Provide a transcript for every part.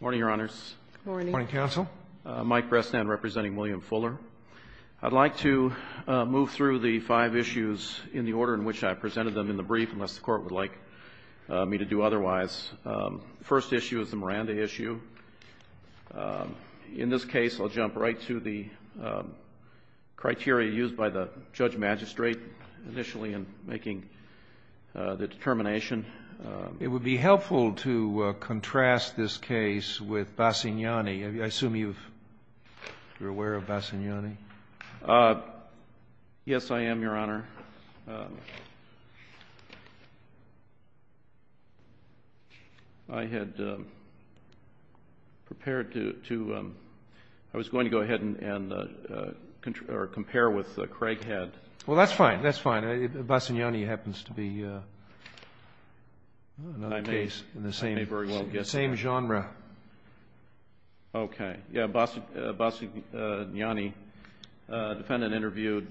Morning, Your Honors. Morning. Morning, Counsel. Mike Bresnan, representing William Fuller. I'd like to move through the five issues in the order in which I presented them in the brief, unless the Court would like me to do otherwise. First issue is the Miranda issue. In this case, I'll jump right to the criteria used by the Judge Magistrate initially in making the determination. It would be helpful to contrast this case with Bassignani. I assume you're aware of Bassignani. Yes, I am, Your Honor. I had prepared to — I was going to go ahead and compare with Craighead. Well, that's fine. That's fine. Bassignani happens to be another case in the same genre. Okay. Yeah, Bassignani, defendant interviewed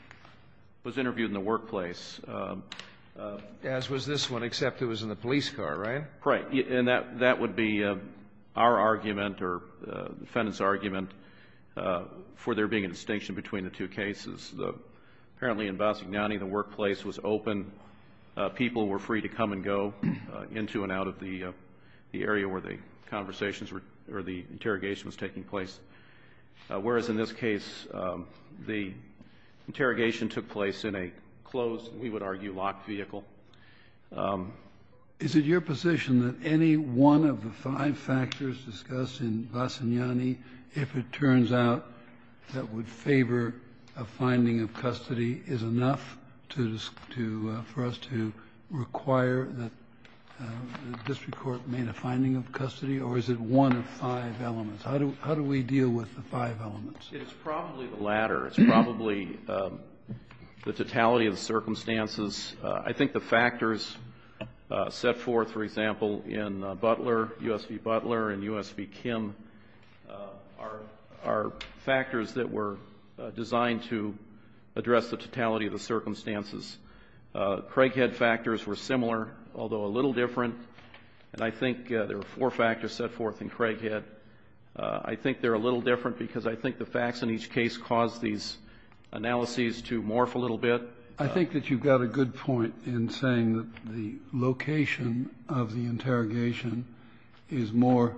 — was interviewed in the workplace. As was this one, except it was in the police car, right? Right. And that would be our argument or the defendant's argument for there being a distinction between the two cases. Apparently, in Bassignani, the workplace was open. People were free to come and go into and out of the area where the conversations were — or the interrogation was taking place, whereas in this case, the interrogation took place in a closed, we would argue, locked vehicle. Is it your position that any one of the five factors discussed in Bassignani, if it turns out that would favor a finding of custody, is enough to — for us to require that the district court made a finding of custody, or is it one of five elements? How do we deal with the five elements? It's probably the latter. It's probably the totality of the circumstances. I think the factors set forth, for example, in Butler, U.S. v. Butler and U.S. v. Kim, are factors that were designed to address the totality of the circumstances. Craighead factors were similar, although a little different. And I think there were four factors set forth in Craighead. I think they're a little different because I think the facts in each case caused these analyses to morph a little bit. I think that you've got a good point in saying that the location of the interrogation is more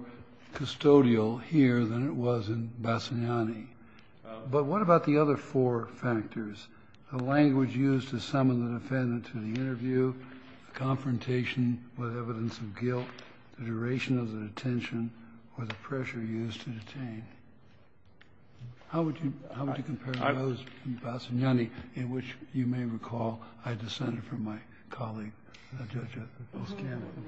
custodial here than it was in Bassignani. But what about the other four factors, the language used to summon the defendant to the interview, the confrontation with evidence of guilt, the duration of the detention, or the pressure used to detain? How would you compare those to Bassignani, in which you may recall I descended from my colleague, Judge O'Scanlon?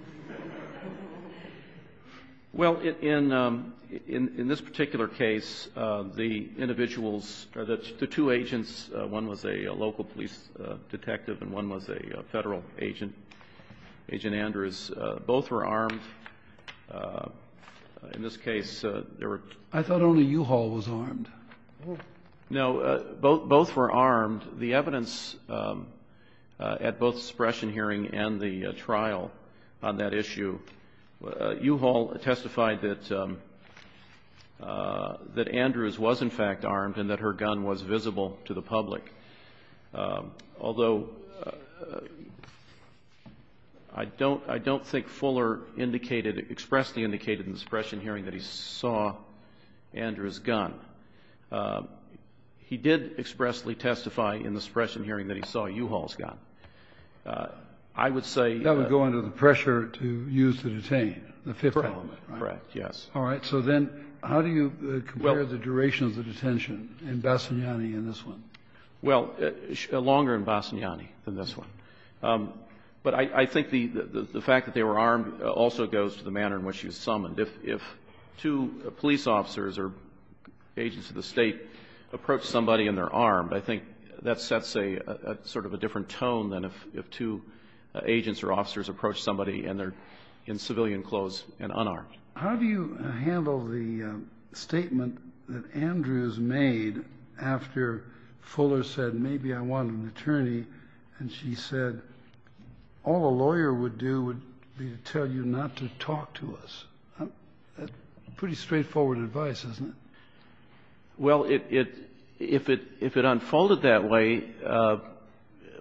Well, in this particular case, the individuals — the two agents, one was a local police detective and one was a Federal agent, Agent Andrews, both were armed. In this case, there were — I thought only Uhaul was armed. No. Both were armed. The evidence at both the suppression hearing and the trial on that issue, Uhaul testified that Andrews was, in fact, armed and that her gun was visible to the public. Although I don't — I don't think Fuller indicated — expressly indicated in the suppression hearing that he saw Andrews' gun. He did expressly testify in the suppression hearing that he saw Uhaul's gun. I would say — That would go under the pressure to use to detain, the fifth element, right? Correct. Correct, yes. All right. So then how do you compare the duration of the detention in Bassignani and this one? Well, longer in Bassignani than this one. But I think the fact that they were armed also goes to the manner in which you summoned. If two police officers or agents of the State approach somebody and they're armed, I think that sets a sort of a different tone than if two agents or officers approach somebody and they're in civilian clothes and unarmed. How do you handle the statement that Andrews made after Fuller said, maybe I want an attorney, and she said, all a lawyer would do would be to tell you not to talk to us? Pretty straightforward advice, isn't it? Well, it — if it unfolded that way,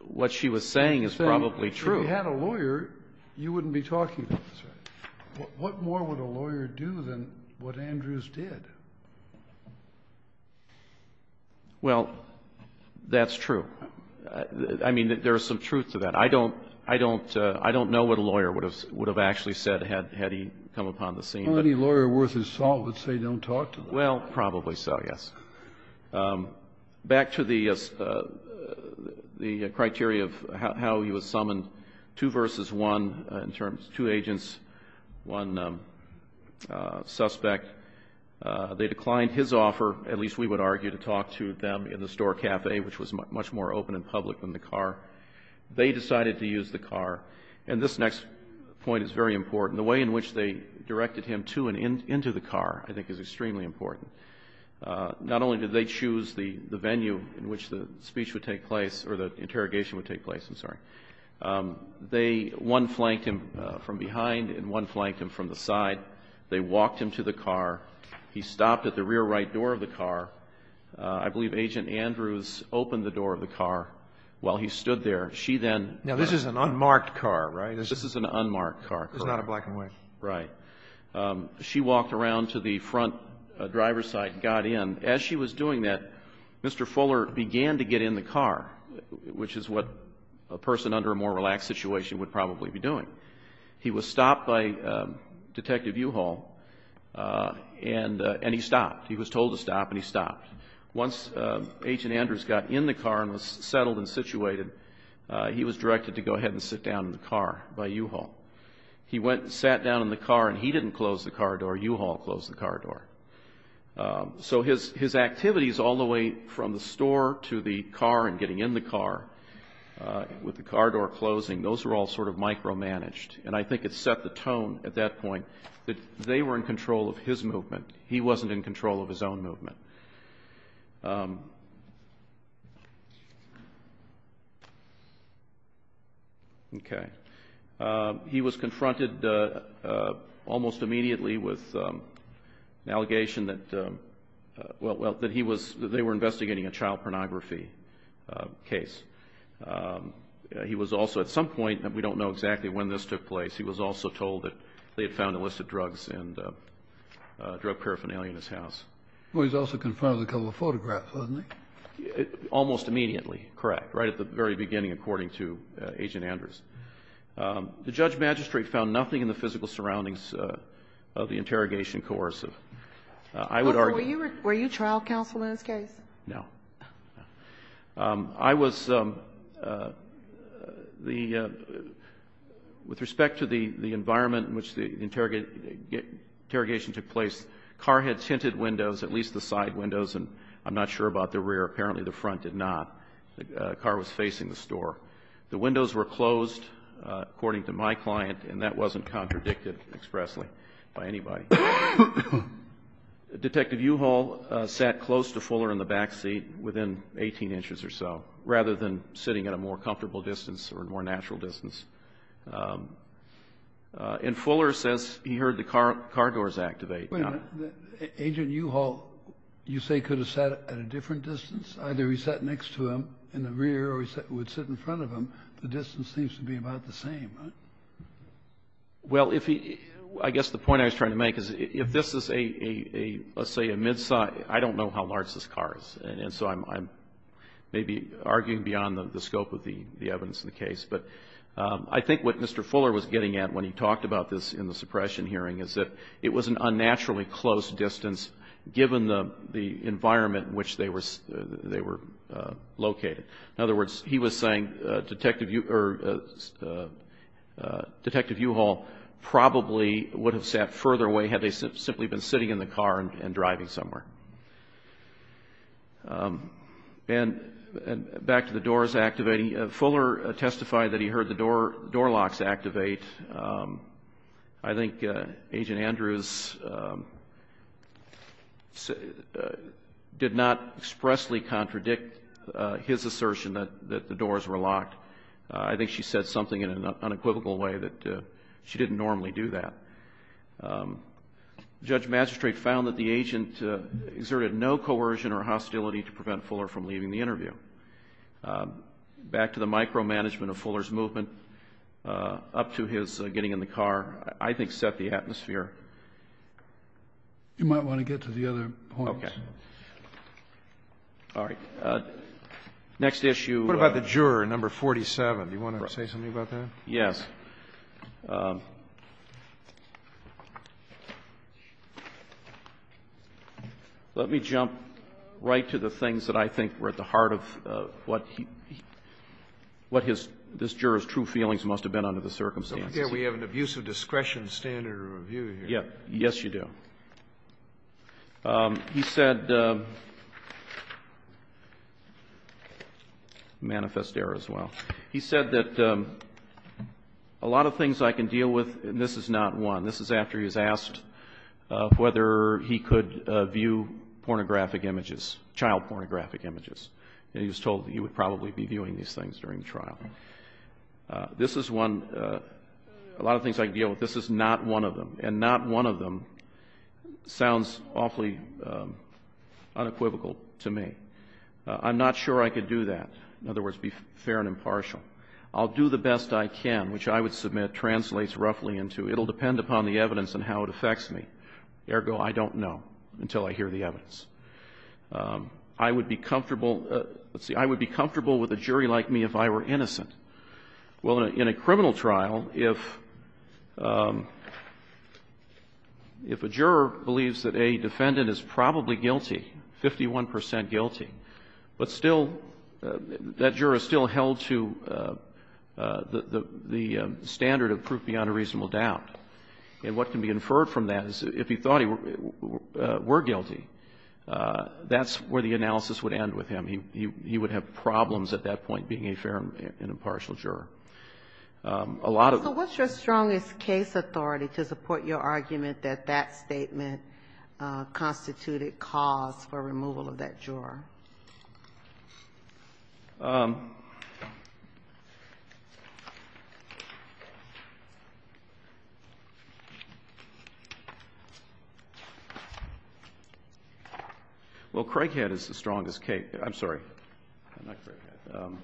what she was saying is probably true. If we had a lawyer, you wouldn't be talking to us. What more would a lawyer do than what Andrews did? Well, that's true. I mean, there is some truth to that. I don't — I don't know what a lawyer would have actually said had he come upon the scene. Well, any lawyer worth his salt would say don't talk to them. Well, probably so, yes. Back to the criteria of how he was summoned. Two versus one in terms — two agents, one suspect. They declined his offer, at least we would argue, to talk to them in the store cafe, which was much more open and public than the car. They decided to use the car. And this next point is very important. The way in which they directed him to and into the car I think is extremely important. Not only did they choose the venue in which the speech would take place or the interrogation would take place. I'm sorry. They — one flanked him from behind and one flanked him from the side. They walked him to the car. He stopped at the rear right door of the car. I believe Agent Andrews opened the door of the car while he stood there. She then — Now, this is an unmarked car, right? This is an unmarked car. It's not a black and white. Right. She walked around to the front driver's side and got in. As she was doing that, Mr. Fuller began to get in the car, which is what a person under a more relaxed situation would probably be doing. He was stopped by Detective Uhaul, and he stopped. He was told to stop, and he stopped. Once Agent Andrews got in the car and was settled and situated, he was directed to go ahead and sit down in the car by Uhaul. He went and sat down in the car, and he didn't close the car door. Uhaul closed the car door. So his activities all the way from the store to the car and getting in the car with the car door closing, those were all sort of micromanaged. And I think it set the tone at that point that they were in control of his movement. He wasn't in control of his own movement. Okay. He was confronted almost immediately with an allegation that, well, that he was they were investigating a child pornography case. He was also at some point, and we don't know exactly when this took place, he was also told that they had found a list of drugs and drug paraphernalia in his house. Well, he was also confronted with a couple of photographs, wasn't he? Almost immediately, correct. Right at the very beginning, according to Agent Andrews. The Judge Magistrate found nothing in the physical surroundings of the interrogation coercive. I would argue. Were you trial counsel in this case? No. I was the with respect to the environment in which the interrogation took place. Car had tinted windows, at least the side windows, and I'm not sure about the rear. Apparently the front did not. The car was facing the store. The windows were closed, according to my client, and that wasn't contradicted expressly by anybody. Detective Uhal sat close to Fuller in the back seat within 18 inches or so, rather than sitting at a more comfortable distance or more natural distance. And Fuller says he heard the car doors activate. Agent Uhal, you say, could have sat at a different distance? Either he sat next to him in the rear or he would sit in front of him. The distance seems to be about the same, right? Well, I guess the point I was trying to make is if this is, let's say, a midsize, I don't know how large this car is. And so I'm maybe arguing beyond the scope of the evidence in the case. But I think what Mr. Fuller was getting at when he talked about this in the suppression hearing is that it was an unnaturally close distance, given the environment in which they were located. In other words, he was saying Detective Uhal probably would have sat further away had they simply been sitting in the car and driving somewhere. And back to the doors activating, Fuller testified that he heard the door locks activate. And I think Agent Andrews did not expressly contradict his assertion that the doors were locked. I think she said something in an unequivocal way that she didn't normally do that. Judge Magistrate found that the agent exerted no coercion or hostility to prevent Fuller from leaving the interview. Back to the micromanagement of Fuller's movement, up to his getting in the car, I think set the atmosphere. You might want to get to the other points. Okay. All right. Next issue. What about the juror, number 47? Do you want to say something about that? Yes. All right. Let me jump right to the things that I think were at the heart of what this juror's true feelings must have been under the circumstances. We have an abuse of discretion standard of review here. Yes, you do. He said, manifest error as well. He said that a lot of things I can deal with, and this is not one. This is after he was asked whether he could view pornographic images, child pornographic images. He was told that he would probably be viewing these things during the trial. This is one. A lot of things I can deal with. This is not one of them. And not one of them sounds awfully unequivocal to me. I'm not sure I could do that. In other words, be fair and impartial. I'll do the best I can, which I would submit translates roughly into it will depend upon the evidence and how it affects me. Ergo, I don't know until I hear the evidence. I would be comfortable with a jury like me if I were innocent. Well, in a criminal trial, if a juror believes that a defendant is probably guilty, 51 percent guilty, but still, that juror is still held to the standard of proof beyond a reasonable doubt. And what can be inferred from that is if he thought he were guilty, that's where the analysis would end with him. He would have problems at that point being a fair and impartial juror. A lot of them. Well, Craighead is the strongest case. I'm sorry. I'm not Craighead. I'm sorry.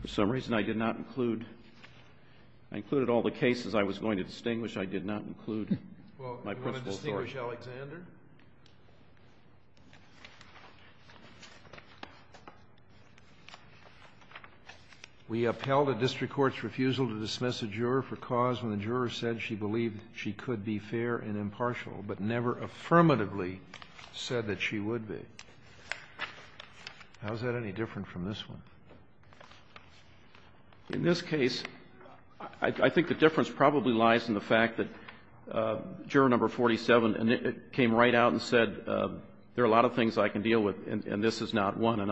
For some reason, I did not include, I included all the cases I was going to distinguish. I did not include my principle thought. Well, do you want to distinguish Alexander? We upheld a district court's refusal to dismiss a juror for cause when the juror said she believed she could be fair and impartial, but never affirmatively said that she would be. How is that any different from this one? In this case, I think the difference probably lies in the fact that Juror No. 47 came right out and said there are a lot of things I can deal with, and this is not one. I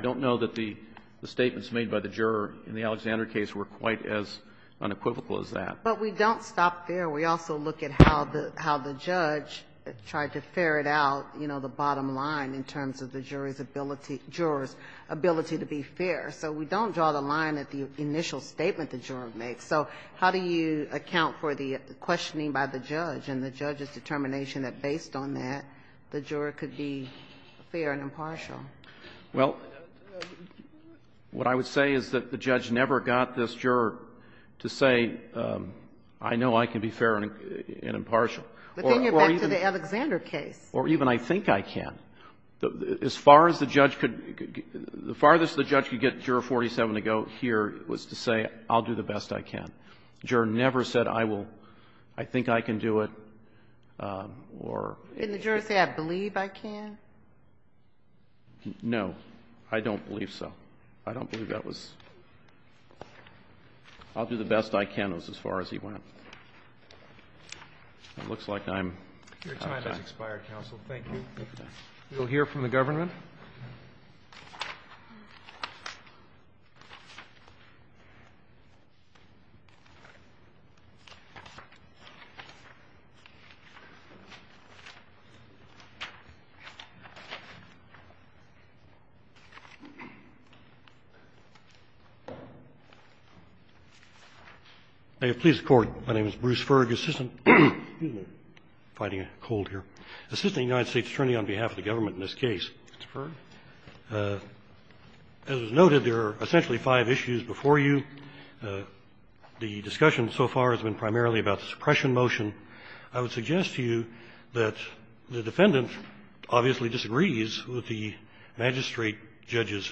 don't know that the statements made by the juror in the Alexander case were quite as unequivocal as that. But we don't stop there. We also look at how the judge tried to ferret out, you know, the bottom line in terms of the juror's ability to be fair. So we don't draw the line at the initial statement the juror makes. So how do you account for the questioning by the judge and the judge's determination that based on that, the juror could be fair and impartial? Well, what I would say is that the judge never got this juror to say, I know I can be fair and impartial. But then you're back to the Alexander case. Or even, I think I can. As far as the judge could go, the farthest the judge could get Juror No. 47 to go here was to say, I'll do the best I can. The juror never said, I will. I think I can do it. In the jury say, I believe I can? No. I don't believe so. I don't believe that was. I'll do the best I can as far as he went. It looks like I'm out of time. Your time has expired, counsel. Thank you. We'll hear from the government. May it please the Court. My name is Bruce Ferg, Assistant. Excuse me. I'm fighting a cold here. Assistant United States Attorney on behalf of the government in this case. Mr. Ferg. As was noted, there are essentially five issues before you. The discussion so far has been primarily about the suppression motion. I would suggest to you that the defendant obviously disagrees with the magistrate judge's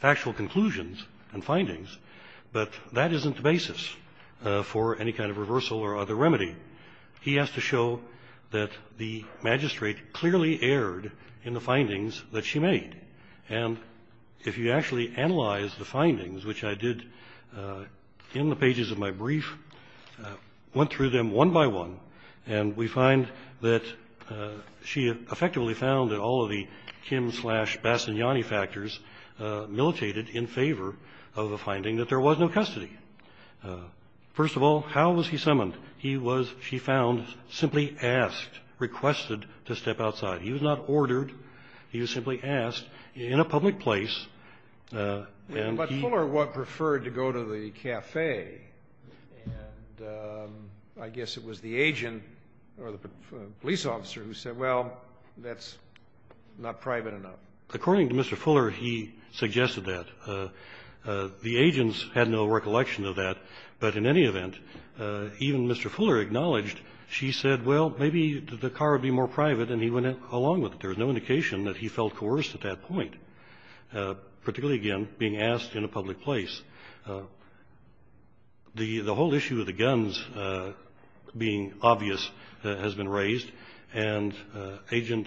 factual conclusions and findings, but that isn't the basis for any kind of reversal or other remedy. He has to show that the magistrate clearly erred in the findings that she made. And if you actually analyze the findings, which I did in the pages of my brief, went through them one by one, and we find that she effectively found that all of the Kim-slash-Bastigliani factors militated in favor of the finding that there was no custody. First of all, how was he summoned? He was, she found, simply asked, requested to step outside. He was not ordered. He was simply asked in a public place. But Fuller preferred to go to the cafe. And I guess it was the agent or the police officer who said, well, that's not private enough. According to Mr. Fuller, he suggested that. The agents had no recollection of that, but in any event, even Mr. Fuller acknowledged she said, well, maybe the car would be more private, and he went along with it. There was no indication that he felt coerced at that point. Particularly, again, being asked in a public place. The whole issue of the guns being obvious has been raised, and Agent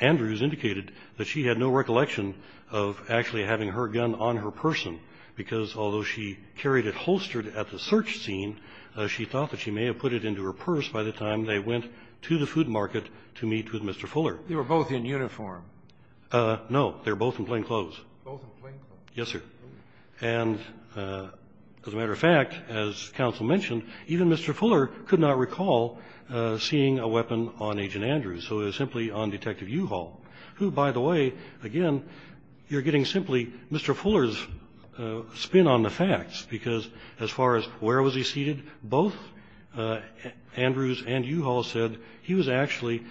Andrews indicated that she had no recollection of actually having her gun on her person, because although she carried it holstered at the search scene, she thought that she may have put it into her purse by the time they went to the food market to meet with Mr. Fuller. They were both in uniform. No. They were both in plainclothes. Both in plainclothes. Yes, sir. And as a matter of fact, as counsel mentioned, even Mr. Fuller could not recall seeing a weapon on Agent Andrews. So it was simply on Detective Uhall, who, by the way, again, you're getting simply Mr. Fuller's spin on the facts, because as far as where was he seated, both Andrews and Uhall said he was actually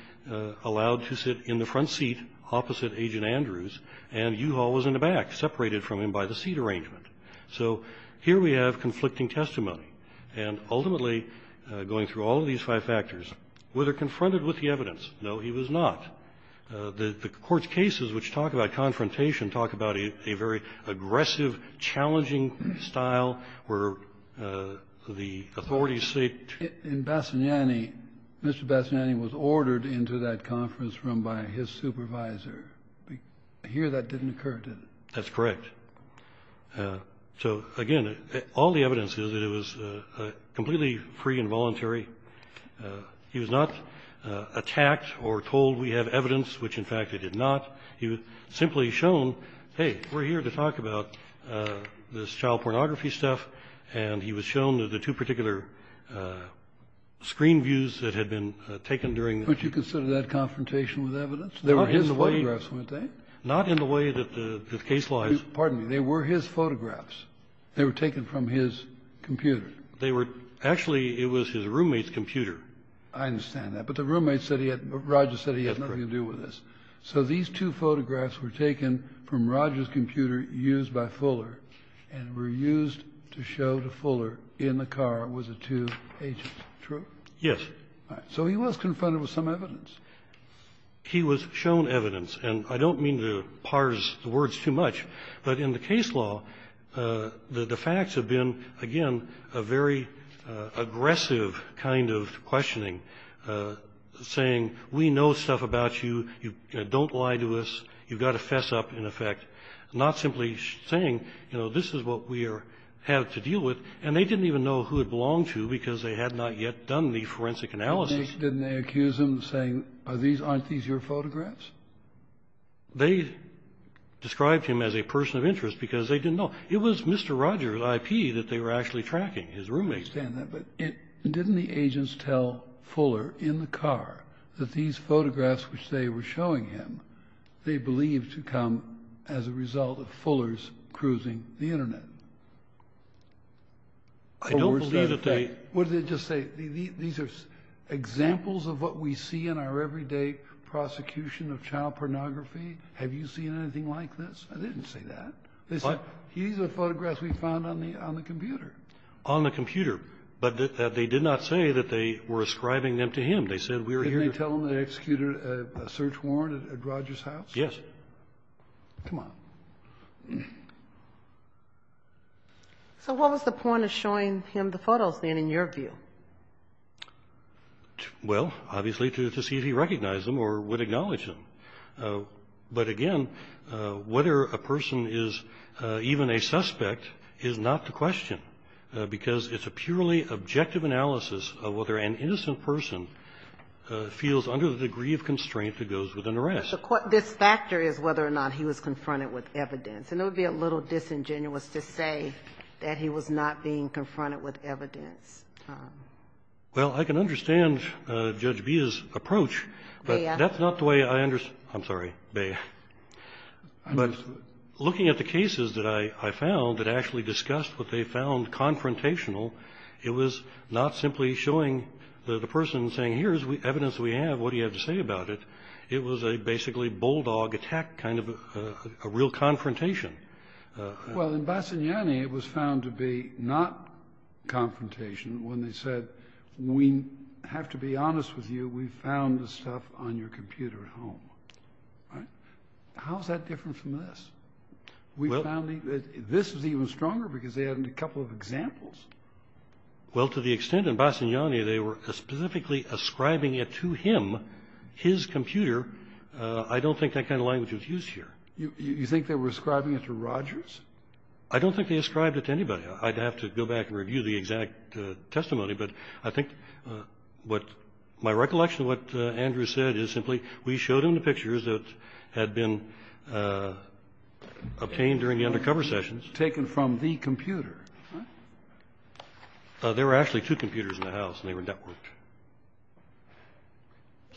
allowed to sit in the front seat opposite Agent Andrews, and Uhall was in the back, separated from him by the seat arrangement. So here we have conflicting testimony. And ultimately, going through all of these five factors, was he confronted with the evidence? No, he was not. The Court's cases, which talk about confrontation, talk about a very aggressive, Mr. Bassanetti was ordered into that conference room by his supervisor. Here that didn't occur, did it? That's correct. So, again, all the evidence is that it was completely free and voluntary. He was not attacked or told we have evidence, which, in fact, it did not. He was simply shown, hey, we're here to talk about this child pornography stuff. And he was shown the two particular screen views that had been taken during the week. But you consider that confrontation with evidence? They were his photographs, weren't they? Not in the way that the case lies. Pardon me. They were his photographs. They were taken from his computer. They were actually, it was his roommate's computer. I understand that. But the roommate said he had, Roger said he had nothing to do with this. So these two photographs were taken from Roger's computer used by Fuller and were used to show to Fuller in the car with the two agents. True? Yes. All right. So he was confronted with some evidence. He was shown evidence. And I don't mean to parse the words too much, but in the case law, the facts have been, again, a very aggressive kind of questioning, saying we know stuff about you. You don't lie to us. You've got to fess up, in effect. Not simply saying, you know, this is what we have to deal with. And they didn't even know who it belonged to because they had not yet done the forensic analysis. Didn't they accuse him, saying, aren't these your photographs? They described him as a person of interest because they didn't know. It was Mr. Roger's IP that they were actually tracking, his roommate. I understand that. But didn't the agents tell Fuller in the car that these photographs which they were cruising the Internet? I don't believe that they What did they just say? These are examples of what we see in our everyday prosecution of child pornography. Have you seen anything like this? I didn't say that. What? These are photographs we found on the computer. On the computer. But they did not say that they were ascribing them to him. They said we were here. Didn't they tell him they executed a search warrant at Roger's house? Yes. Come on. So what was the point of showing him the photos, then, in your view? Well, obviously, to see if he recognized them or would acknowledge them. But, again, whether a person is even a suspect is not the question because it's a purely objective analysis of whether an innocent person feels under the degree of constraint that goes with an arrest. But this factor is whether or not he was confronted with evidence. And it would be a little disingenuous to say that he was not being confronted with evidence. Well, I can understand Judge Bea's approach, but that's not the way I understand I'm sorry, Bea. But looking at the cases that I found that actually discussed what they found confrontational, it was not simply showing the person saying, here's evidence we have. What do you have to say about it? It was a basically bulldog attack kind of a real confrontation. Well, in Bassignani, it was found to be not confrontation when they said, we have to be honest with you, we found this stuff on your computer at home. All right? How is that different from this? We found that this was even stronger because they had a couple of examples. Well, to the extent in Bassignani they were specifically ascribing it to him, his computer, I don't think that kind of language was used here. You think they were ascribing it to Rogers? I don't think they ascribed it to anybody. I'd have to go back and review the exact testimony, but I think what my recollection of what Andrew said is simply we showed him the pictures that had been obtained during the undercover sessions. The pictures taken from the computer, right? There were actually two computers in the house, and they were networked.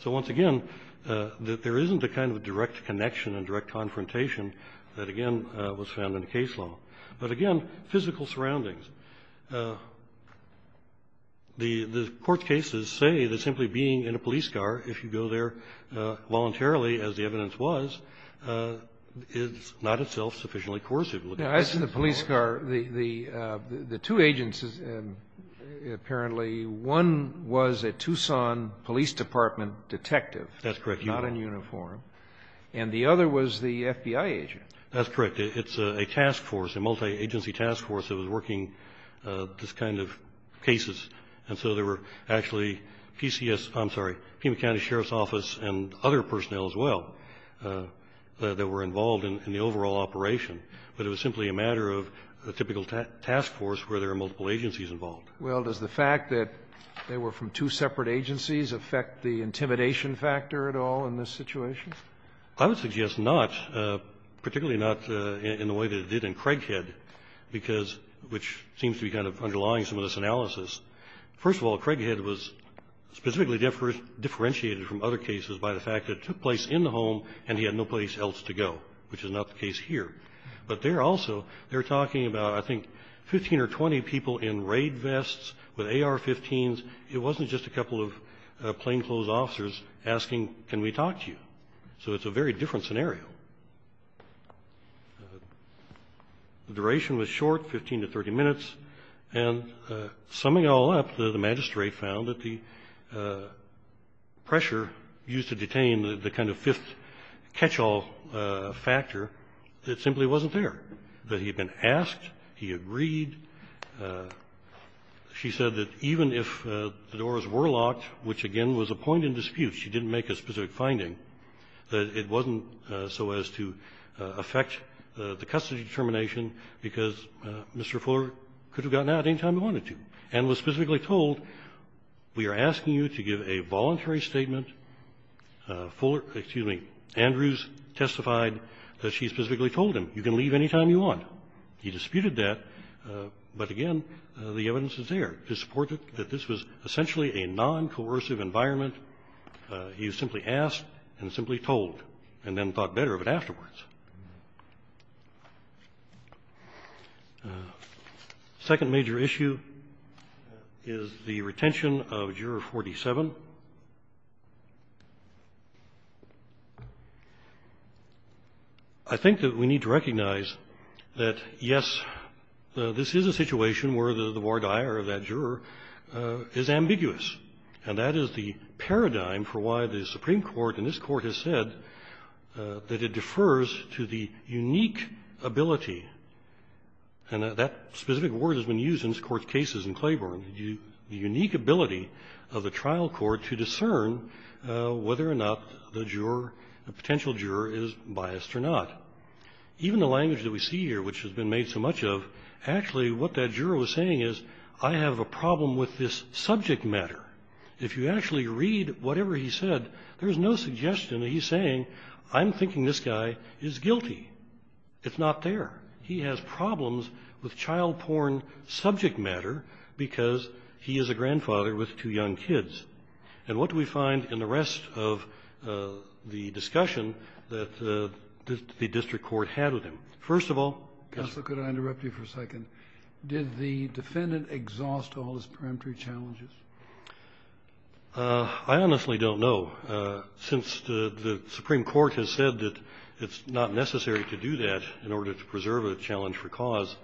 So once again, there isn't a kind of direct connection and direct confrontation that, again, was found in the case law. But again, physical surroundings. The court cases say that simply being in a police car, if you go there voluntarily, as the evidence was, is not itself sufficiently coercive. Now, as to the police car, the two agencies apparently, one was a Tucson Police Department detective. That's correct. Not in uniform. And the other was the FBI agent. That's correct. It's a task force, a multi-agency task force that was working this kind of cases. And so there were actually PCS, I'm sorry, Pima County Sheriff's Office and other personnel as well that were involved in the overall operation. But it was simply a matter of a typical task force where there are multiple agencies involved. Well, does the fact that they were from two separate agencies affect the intimidation factor at all in this situation? I would suggest not, particularly not in the way that it did in Craighead, because which seems to be kind of underlying some of this analysis. First of all, Craighead was specifically differentiated from other cases by the fact that it took place in the home and he had no place else to go, which is not the case here. But there also they're talking about, I think, 15 or 20 people in raid vests with AR-15s. It wasn't just a couple of plainclothes officers asking, can we talk to you? So it's a very different scenario. The duration was short, 15 to 30 minutes. And summing it all up, the magistrate found that the pressure used to detain the person, the kind of fifth catch-all factor, it simply wasn't there. That he had been asked, he agreed. She said that even if the doors were locked, which, again, was a point in dispute, she didn't make a specific finding, that it wasn't so as to affect the custody determination because Mr. Fuller could have gotten out any time he wanted to and was Andrews testified that she specifically told him, you can leave any time you want. He disputed that, but again, the evidence is there to support that this was essentially a noncoercive environment. He simply asked and simply told and then thought better of it afterwards. The second major issue is the retention of Juror 47. I think that we need to recognize that, yes, this is a situation where the voir dire of that juror is ambiguous. And that is the paradigm for why the Supreme Court in this Court has said that it defers to the unique ability, and that specific word has been used in this Court's cases in Claiborne, the unique ability of the trial court to discern whether or not the potential juror is biased or not. Even the language that we see here, which has been made so much of, actually what that juror was saying is, I have a problem with this subject matter. If you actually read whatever he said, there's no suggestion that he's saying, I'm thinking this guy is guilty. It's not there. He has problems with child porn subject matter because he is a grandfather with two young kids. And what do we find in the rest of the discussion that the district court had with him? First of all, yes. Kennedy. Counsel, could I interrupt you for a second? Did the defendant exhaust all his peremptory challenges? I honestly don't know. Since the Supreme Court has said that it's not necessary to do that in order to preserve a challenge for cause,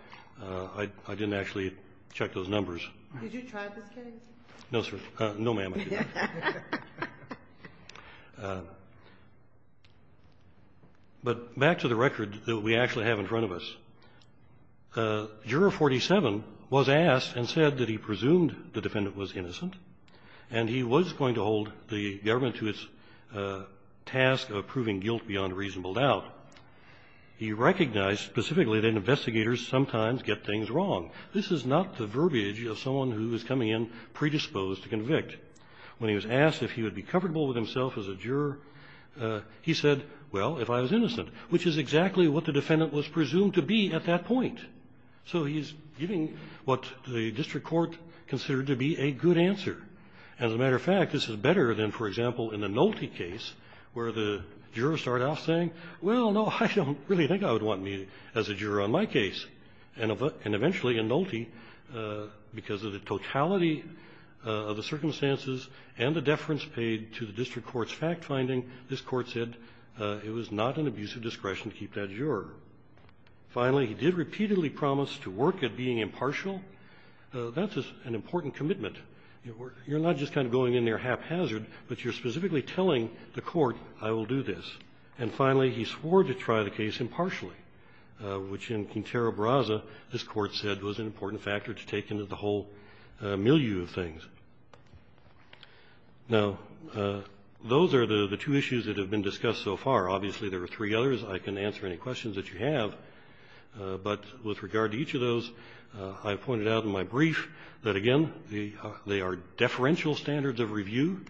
I didn't actually check those numbers. Did you try this, Kennedy? No, sir. No, ma'am, I did not. But back to the record that we actually have in front of us. Juror 47 was asked and said that he presumed the defendant was innocent, and he was going to hold the government to its task of proving guilt beyond reasonable doubt. He recognized specifically that investigators sometimes get things wrong. This is not the verbiage of someone who is coming in predisposed to convict. When he was asked if he would be comfortable with himself as a juror, he said, well, if I was innocent, which is exactly what the defendant was presumed to be at that point. So he's giving what the district court considered to be a good answer. As a matter of fact, this is better than, for example, in a Nolte case where the juror started off saying, well, no, I don't really think I would want me as a juror on my case. And eventually in Nolte, because of the totality of the circumstances and the deference paid to the district court's fact-finding, this Court said it was not an abuse of discretion to keep that juror. Finally, he did repeatedly promise to work at being impartial. That's an important commitment. You're not just kind of going in there haphazard, but you're specifically telling the Court, I will do this. And finally, he swore to try the case impartially, which in Quintero-Brasa, this Court said was an important factor to take into the whole milieu of things. Now, those are the two issues that have been discussed so far. Obviously, there are three others. I can answer any questions that you have. But with regard to each of those, I pointed out in my brief that, again, they are deferential standards of review,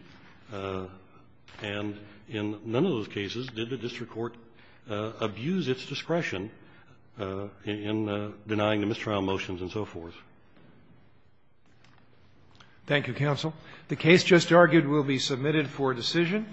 and in none of those cases did the district court abuse its discretion in denying the mistrial motions and so forth. Thank you, counsel. The case just argued will be submitted for decision.